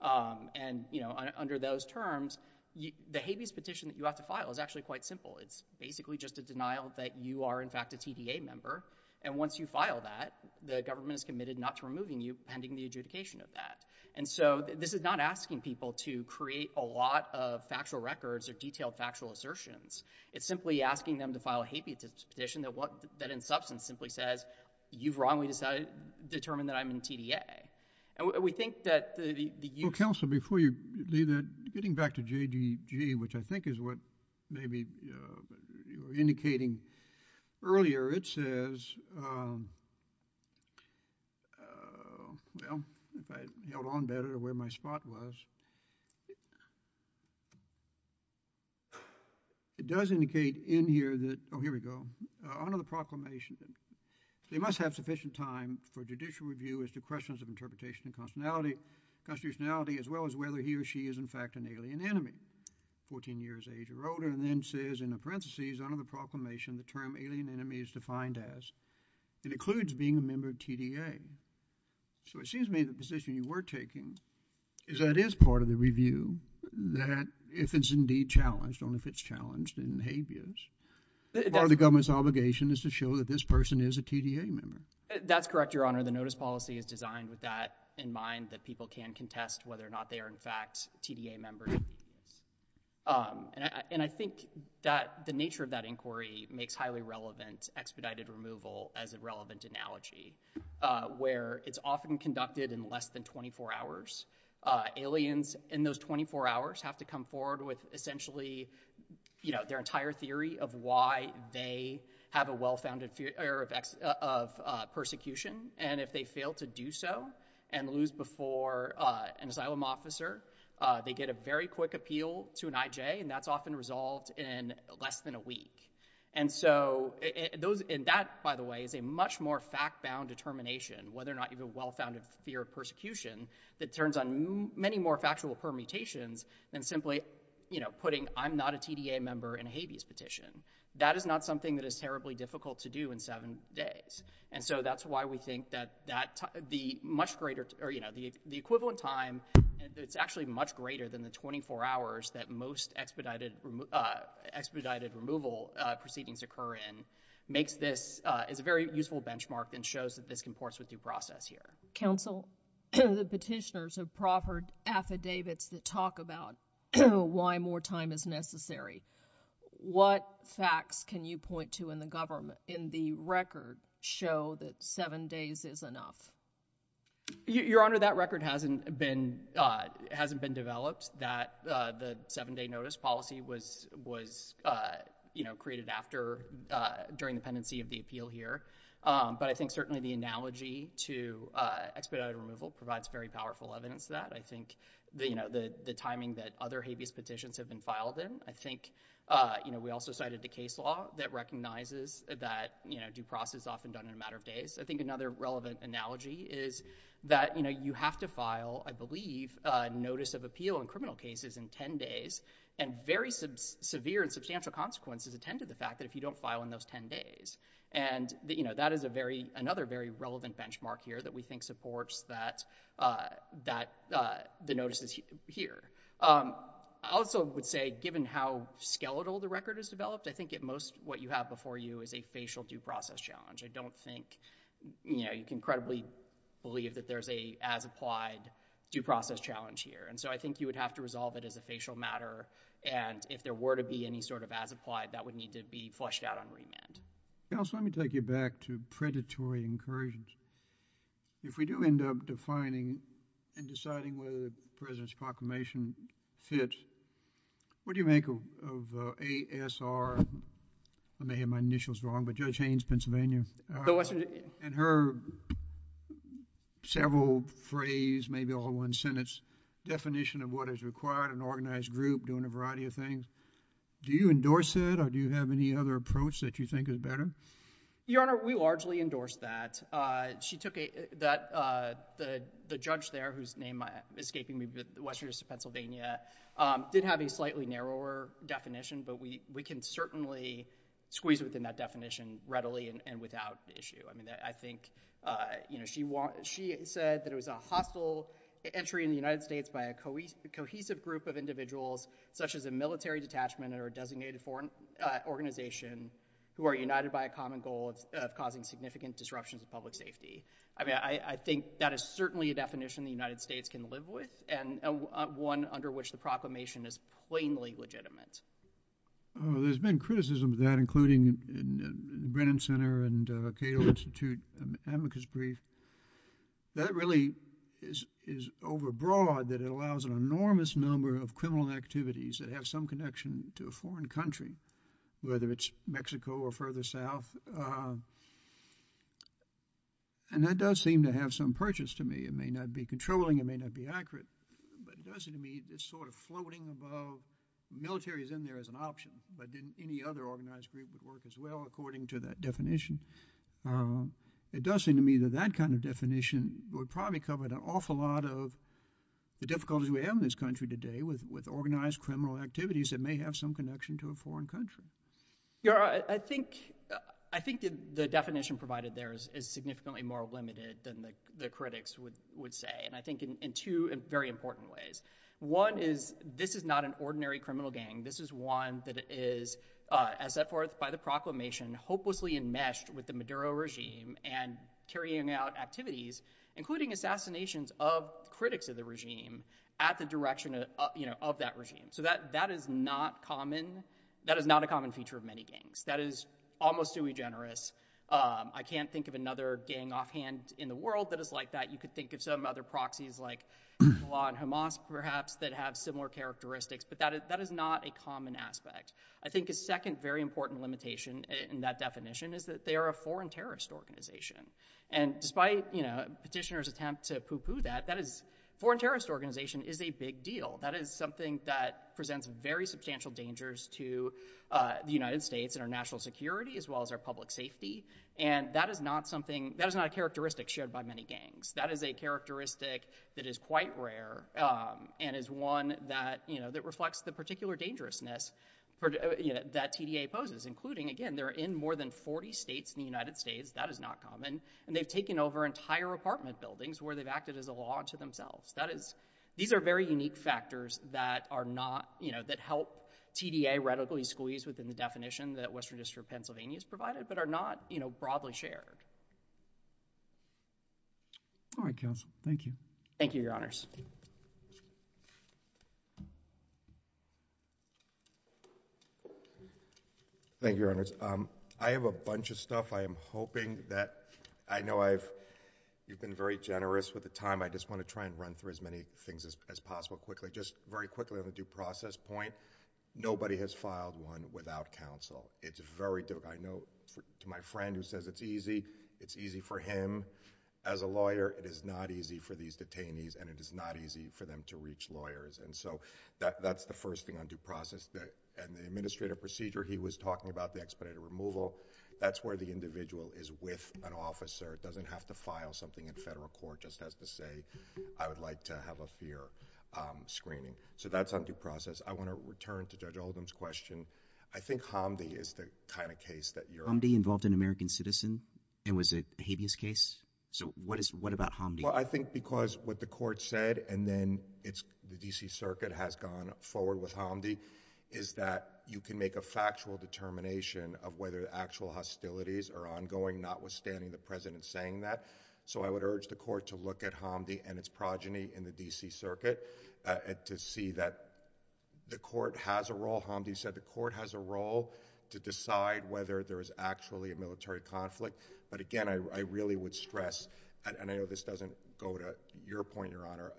Um, and you know, under those terms, you, the habeas petition that you have to file is actually quite simple. It's basically just a denial that you are in fact a TDA member. And once you file that, the government is committed not to removing you pending the adjudication of that. And so this is not asking people to create a lot of factual records or detailed factual assertions. It's simply asking them to file a habeas petition that what, that in substance simply says you've wrongly decided, determined that I'm in TDA. And we, we think that the, the... Counsel, before you leave that, getting back to JGG, which I think is what maybe, uh, you were indicating earlier, it says, um, uh, well, if I held on better to where my spot was, it does indicate in here that, oh, here we go, under the proclamation, they must have sufficient time for judicial review as to questions of interpretation and constitutionality, constitutionality as well as whether he or she is in fact an alien enemy, 14 years age or older, and then says in the parentheses under the proclamation, the term alien enemy is defined as, it includes being a member of TDA. So it seems to me the position you were taking is that it is part of the review that if it's indeed challenged, only if it's challenged in habeas, part of the government's obligation is to show that this person is a TDA member. That's correct, Your Honor. The notice policy is designed with that in mind that people can contest whether or not they are in fact TDA members. Um, and I, and I think that the nature of that inquiry makes highly relevant expedited removal as a relevant analogy, uh, where it's often conducted in less than 24 hours. Uh, aliens in those 24 hours have to come forward with essentially, you know, their entire theory of why they have a well-founded fear of ex, uh, of, uh, persecution, and if they fail to do so and lose before, uh, an asylum officer, uh, they get a very quick appeal to an IJ, and that's often resolved in less than a week. And so those, and that, by the way, is a much more fact-bound determination, whether or not you have a well-founded fear of persecution that turns on many more factual permutations than simply, you know, putting I'm not a TDA member in a habeas petition. That is not something that is terribly difficult to do in seven days. And so that's why we think that, that the much greater, or, you know, the, the equivalent time, it's actually much greater than the 24 hours that most expedited, uh, expedited removal, uh, proceedings occur in, makes this, uh, is a very useful benchmark and shows that this comports with due process here. Counsel, the petitioners have proffered affidavits that talk about why more time is necessary. What facts can you point to in the government, in the record, show that seven days is enough? Your Honor, that record hasn't been, uh, hasn't been developed, that, uh, the seven-day notice policy was, was, uh, you know, created after, uh, during the pendency of the appeal here. Um, but I think certainly the analogy to, uh, expedited removal provides very powerful evidence to that. I think the, you know, the, the timing that other habeas petitions have been filed in, I think, uh, you know, we also cited the case law that recognizes that, you know, due process is often done in a matter of days. I think another relevant analogy is that, you know, you have to file, I believe, a notice of appeal in criminal cases in 10 days and very sub, severe and substantial consequences attend to the fact that if you don't file in those 10 days and, you know, that is a very, another very relevant benchmark here that we think supports that, uh, that, uh, the notices here. Um, I also would say given how skeletal the record has developed, I think at most what you have before you is a facial due process challenge. I don't think, you know, you can credibly believe that there's a as-applied due process challenge here and so I think you would have to resolve it as a facial matter and if there were to be any sort of as-applied, that would need to be flushed out on remand. Counsel, let me take you back to predatory incursions. If we do end up defining and deciding whether the President's proclamation fits, what do you make of, of, uh, ASR, I may have my initials wrong, but Judge Haines, Pennsylvania, uh, and her several phrase, maybe all one sentence, definition of what is required, an organized group doing a variety of things. Do you endorse it or do you have any other approach that you think is better? Your Honor, we largely endorse that. Uh, she took a, that, uh, the, the judge there whose name I, escaping me, but the Western District of Pennsylvania, um, did have a slightly narrower definition, but we, we can certainly squeeze within that definition readily and, and without issue. I mean, I, I think, uh, you know, she want, she said that it was a hostile entry in the United States by a cohesive group of individuals such as a military detachment or a designated foreign, uh, organization who are united by common goal of, uh, causing significant disruptions of public safety. I mean, I, I think that is certainly a definition the United States can live with and, uh, uh, one under which the proclamation is plainly legitimate. Uh, there's been criticism of that, including in, in the Brennan Center and, uh, Cato Institute, um, Amicus Brief. That really is, is overbroad that it allows an enormous number of criminal activities that have some connection to a foreign country, whether it's Mexico or further south. Uh, and that does seem to have some purchase to me. It may not be controlling, it may not be accurate, but it does seem to me this sort of floating above, military is in there as an option, but didn't any other organized group would work as well according to that definition. Um, it does seem to me that that kind of definition would probably cover an awful lot of the difficulties we have in this country today with, with organized criminal activities that may have some connection to a foreign country. Your Honor, I think, uh, I think that the definition provided there is, is significantly more limited than the, the critics would, would say, and I think in, in two very important ways. One is this is not an ordinary criminal gang. This is one that is, uh, as set forth by the proclamation, hopelessly enmeshed with the Maduro regime and carrying out activities, including assassinations of critics of the regime at the direction of, you know, of that regime. So that, that is not common. That is not a common feature of many gangs. That is almost too egenerous. Um, I can't think of another gang offhand in the world that is like that. You could think of some other proxies like Hamas, perhaps that have similar characteristics, but that is, that is not a common aspect. I think a second very important limitation in that definition is that they are a foreign terrorist organization. And despite, you know, petitioners attempt to poo-poo that, that is, foreign terrorist organization is a big deal. That is something that presents very substantial dangers to, uh, the United States and our national security as well as our public safety. And that is not something, that is not a characteristic shared by many gangs. That is a characteristic that is quite rare, um, and is one that, you know, that reflects the particular dangerousness for, you know, that TDA poses, including, again, they're in more than 40 states in the United States. That is not common. And they've taken over entire apartment buildings where they've acted as a law to themselves. That is, these are very unique factors that are not, you know, that help TDA radically squeeze within the definition that Western District of Pennsylvania has provided, but are not, you know, broadly shared. All right, counsel. Thank you. Thank you, Your Honors. Thank you, Your Honors. Um, I have a bunch of stuff I am hoping that, I know I've, you've been very generous with the time. I just want to try and run through as many things as, as possible quickly. Just very quickly on the due process point, nobody has filed one without counsel. It's very difficult. I know, for, to my friend who says it's easy, it's easy for him. As a lawyer, it is not easy for these detainees and it is not easy for them to reach lawyers. And so, that, that's the first thing on due process that, and the administrative procedure he was talking about, the expedited removal, that's where the individual is with an officer, doesn't have to file something in federal court, just has to say, I would like to have a fear screening. So, that's on due process. I want to return to Judge Oldham's question. I think Hamdi is the kind of case that you're... Hamdi involved an American citizen and was a habeas case? So, what is, what about Hamdi? Well, I think because what the court said and then it's, the D.C. Circuit has gone forward with Hamdi, is that you can make a factual determination of whether the actual hostilities are ongoing, notwithstanding the president saying that. So, I would urge the court to look at Hamdi and its progeny in the D.C. Circuit, uh, to see that the court has a role, Hamdi said the court has a role to decide whether there is actually a military conflict. But again, I, I really would stress, and, and I know this doesn't go to your point, Your Honor,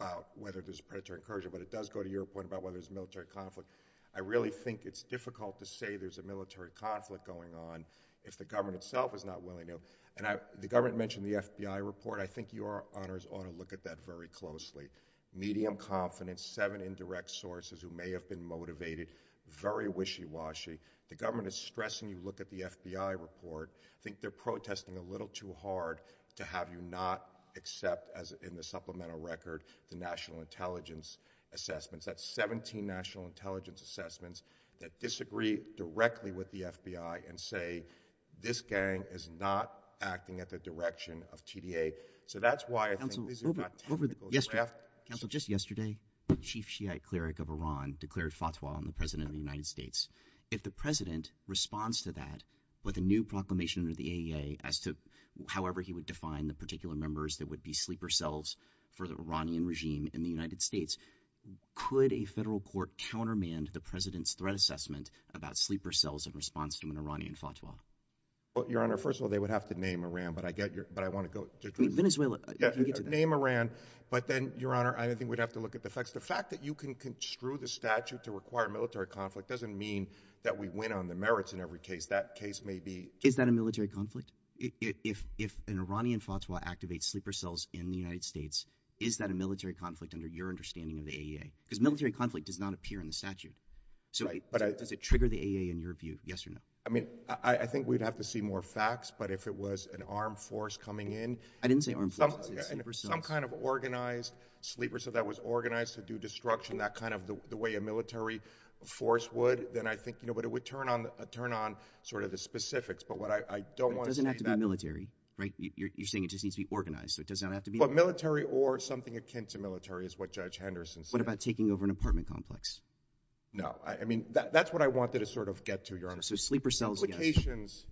about whether there's predatory incursion, but it does go to your point about whether there's military conflict. I really think it's difficult to say there's a military conflict going on if the government itself is not willing to. And I, the government mentioned the FBI report. I think Your Honors ought to look at that very closely. Medium confidence, seven indirect sources who may have been motivated, very wishy-washy. The government is stressing you look at the FBI report. I think they're protesting a little too hard to have you not accept, as in the supplemental record, the national intelligence assessments. That's 17 national intelligence assessments that disagree directly with the FBI and say, this gang is not acting at the direction of TDA. So that's why I think these are not technical drafts. Counsel, just yesterday, the chief Shiite cleric of Iran declared fatwa on the president of the United States. If the president responds to that with a new proclamation under the AEA as to however he would define the particular members that would be sleeper selves for the Iranian regime in the United States, could a federal court countermand the president's threat assessment about sleeper cells in response to an Iranian fatwa? Well, Your Honor, first of all, they would have to name Iran, but I get your, but I want to go to Venezuela, name Iran. But then Your Honor, I don't think we'd have to look at the facts. The fact that you can construe the statute to require military conflict doesn't mean that we win on the merits in every case. That case may be, is that a military conflict? If an Iranian fatwa activates sleeper cells in the United States, is that a military conflict under your understanding of the AEA? Because military conflict does not appear in the statute. So does it trigger the AEA in your view? Yes or no? I mean, I think we'd have to see more facts, but if it was an armed force coming in... I didn't say armed force, I said sleeper cells. Some kind of organized sleeper cell that was organized to do destruction, that kind of the way a military force would, then I think, you know, but it would turn on sort of the specifics. But what I don't want to see... It doesn't have to be military, right? You're saying it just needs to be organized, so it doesn't have to be... But military or something akin to military is what Judge Henderson said. What about taking over an apartment complex? No, I mean, that's what I wanted to sort of get to, Your Honor. So sleeper cells... Implications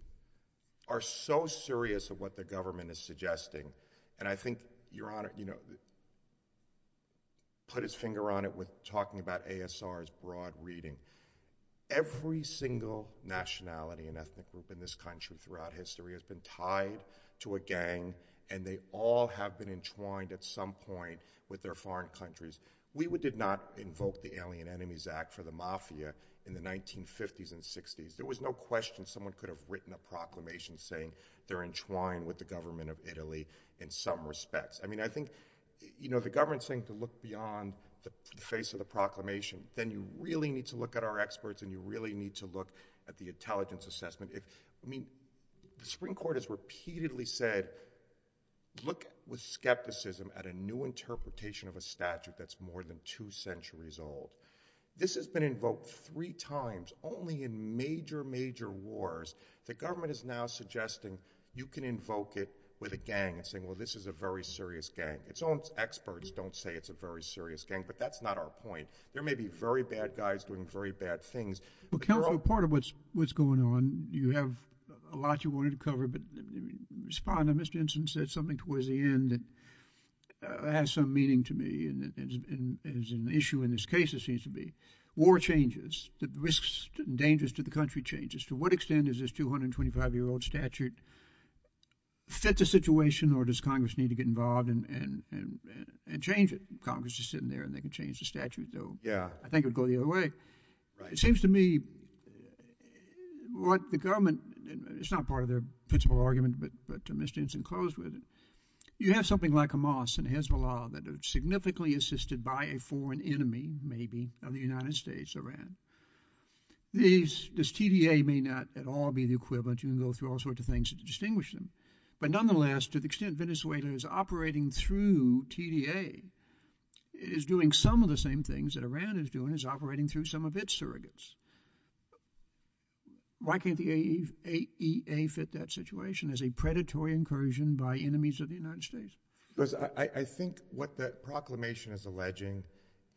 are so serious of what the government is suggesting, and I think Your Honor, you know, put his finger on it with talking about ASR's broad reading. Every single nationality and ethnic group in this country throughout history has been tied to a gang, and they all have been entwined at some point with their foreign countries. We did not invoke the Alien Enemies Act for the mafia in the 1950s and 60s. There was no question someone could have written a proclamation saying they're entwined with the government of Italy in some respects. I mean, I think, you know, the government's saying to look beyond the face of the proclamation, then you really need to look at our experts, and you really need to look at the intelligence assessment. I mean, the Supreme Court has repeatedly said, look with skepticism at a new interpretation of a statute that's more than two centuries old. This has been invoked three times, only in major, major wars. The government is now suggesting you can invoke it with a gang and saying, well, this is a very serious gang. Its own experts don't say it's a very serious gang, but that's not our point. There may be very bad guys doing very bad things. Well, counsel, part of what's going on, you have a lot you wanted to cover, but Respondent, Mr. Henson, said something towards the end that has some meaning to me, and is an issue in this case, it seems to be. War changes. The risks and dangers to the country changes. To what extent is this 225-year-old statute fit the situation, or does Congress need to get involved and change it? Congress is sitting there, and they can change the statute, though I think it would go the other way. It seems to me what the government, it's not part of their principle argument, but Mr. Henson closed with, you have something like Hamas and Hezbollah that are significantly assisted by a foreign enemy, maybe, of the United States, Iran. This TDA may not at all be the equivalent. You can go through all sorts of things to distinguish them, but nonetheless, to the extent Venezuela is operating through TDA, it is doing some of the same things that its surrogates. Why can't the AEA fit that situation as a predatory incursion by enemies of the United States? I think what the proclamation is alleging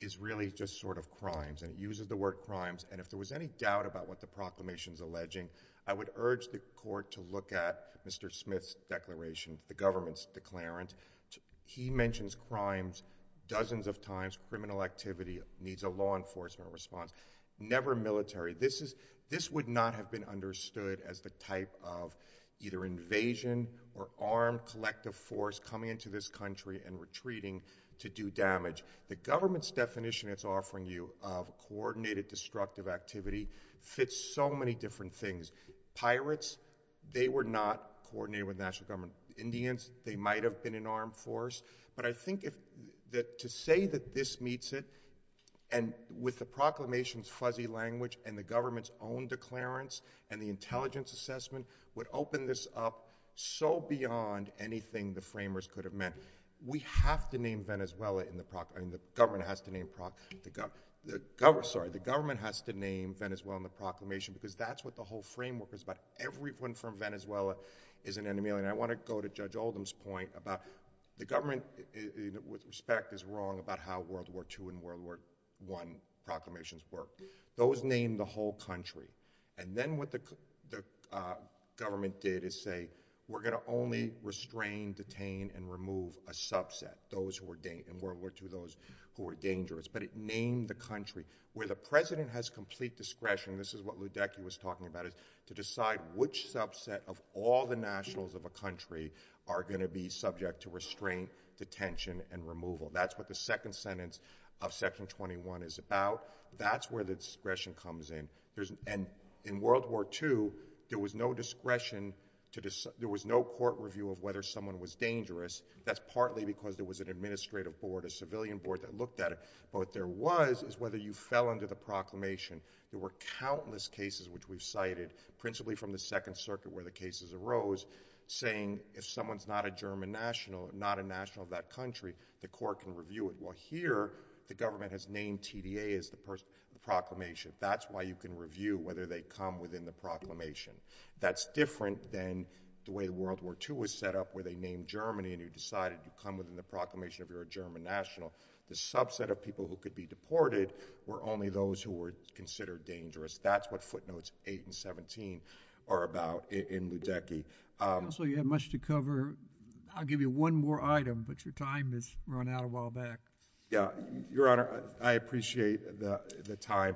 is really just sort of crimes, and it uses the word crimes, and if there was any doubt about what the proclamation is alleging, I would urge the court to look at Mr. Smith's declaration, the government's declarant. He mentions crimes dozens of times, criminal activity needs a law enforcement response, never military. This would not have been understood as the type of either invasion or armed collective force coming into this country and retreating to do damage. The government's definition it's offering you of coordinated destructive activity fits so many different things. Pirates, they were not coordinated with national government. Indians, they might have been in armed force, but I think that to say that this meets it, and with the proclamation's fuzzy language and the government's own declarants and the intelligence assessment would open this up so beyond anything the framers could have meant. We have to name Venezuela in the proclamation. The government has to name Venezuela in the proclamation because that's what the whole framework is about. Everyone from Venezuela is an enemy, and I want to go to Judge Oldham's point about the government with respect is wrong about how World War II and World War I proclamations work. Those name the whole country, and then what the government did is say, we're going to only restrain, detain, and remove a subset, those who were in World War II, those who were dangerous, but it named the country. Where the president has complete discretion, this is what Ludecky was talking about, is to decide which subset of all the nationals of a country are going to be subject to restraint, detention, and removal. That's what the second sentence of section 21 is about. That's where the discretion comes in. In World War II, there was no court review of whether someone was dangerous. That's partly because there was an administrative board, a civilian board that looked at it, but what there was is whether you fell under the proclamation. There were countless cases which we've cited, principally from the Second Circuit where the cases arose, saying if someone's not a German national, not a national of that country, the court can review it. Well here, the government has named TDA as the person, the proclamation. That's why you can review whether they come within the proclamation. That's different than the way World War II was set up, where they named Germany and you decided you come within the proclamation if you're a German national. The subset of people who could be deported were only those who were considered dangerous. That's what footnotes 8 and 17 are about in Ludecky. Counselor, you have much to cover. I'll give you one more item, but your time has run out a while back. Yeah, Your Honor, I appreciate the time.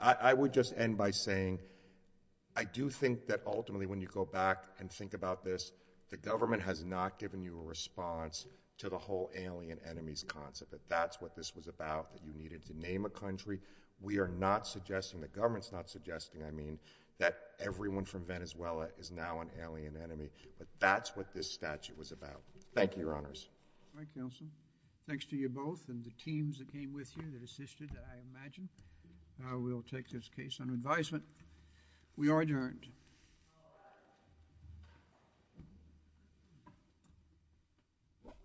I would just end by saying I do think that ultimately when you go back and think about this, the government has not given you a response to the whole alien enemies concept, that that's what this was about, that you needed to name a country. We are not suggesting, the government's not suggesting, I mean, that everyone from Venezuela is now an alien enemy, but that's what this statute was about. Thank you, Your Honors. All right, Counselor. Thanks to you both and the teams that came with you, the assisted that I imagine. I will take this case on advisement. We are adjourned. Thank you.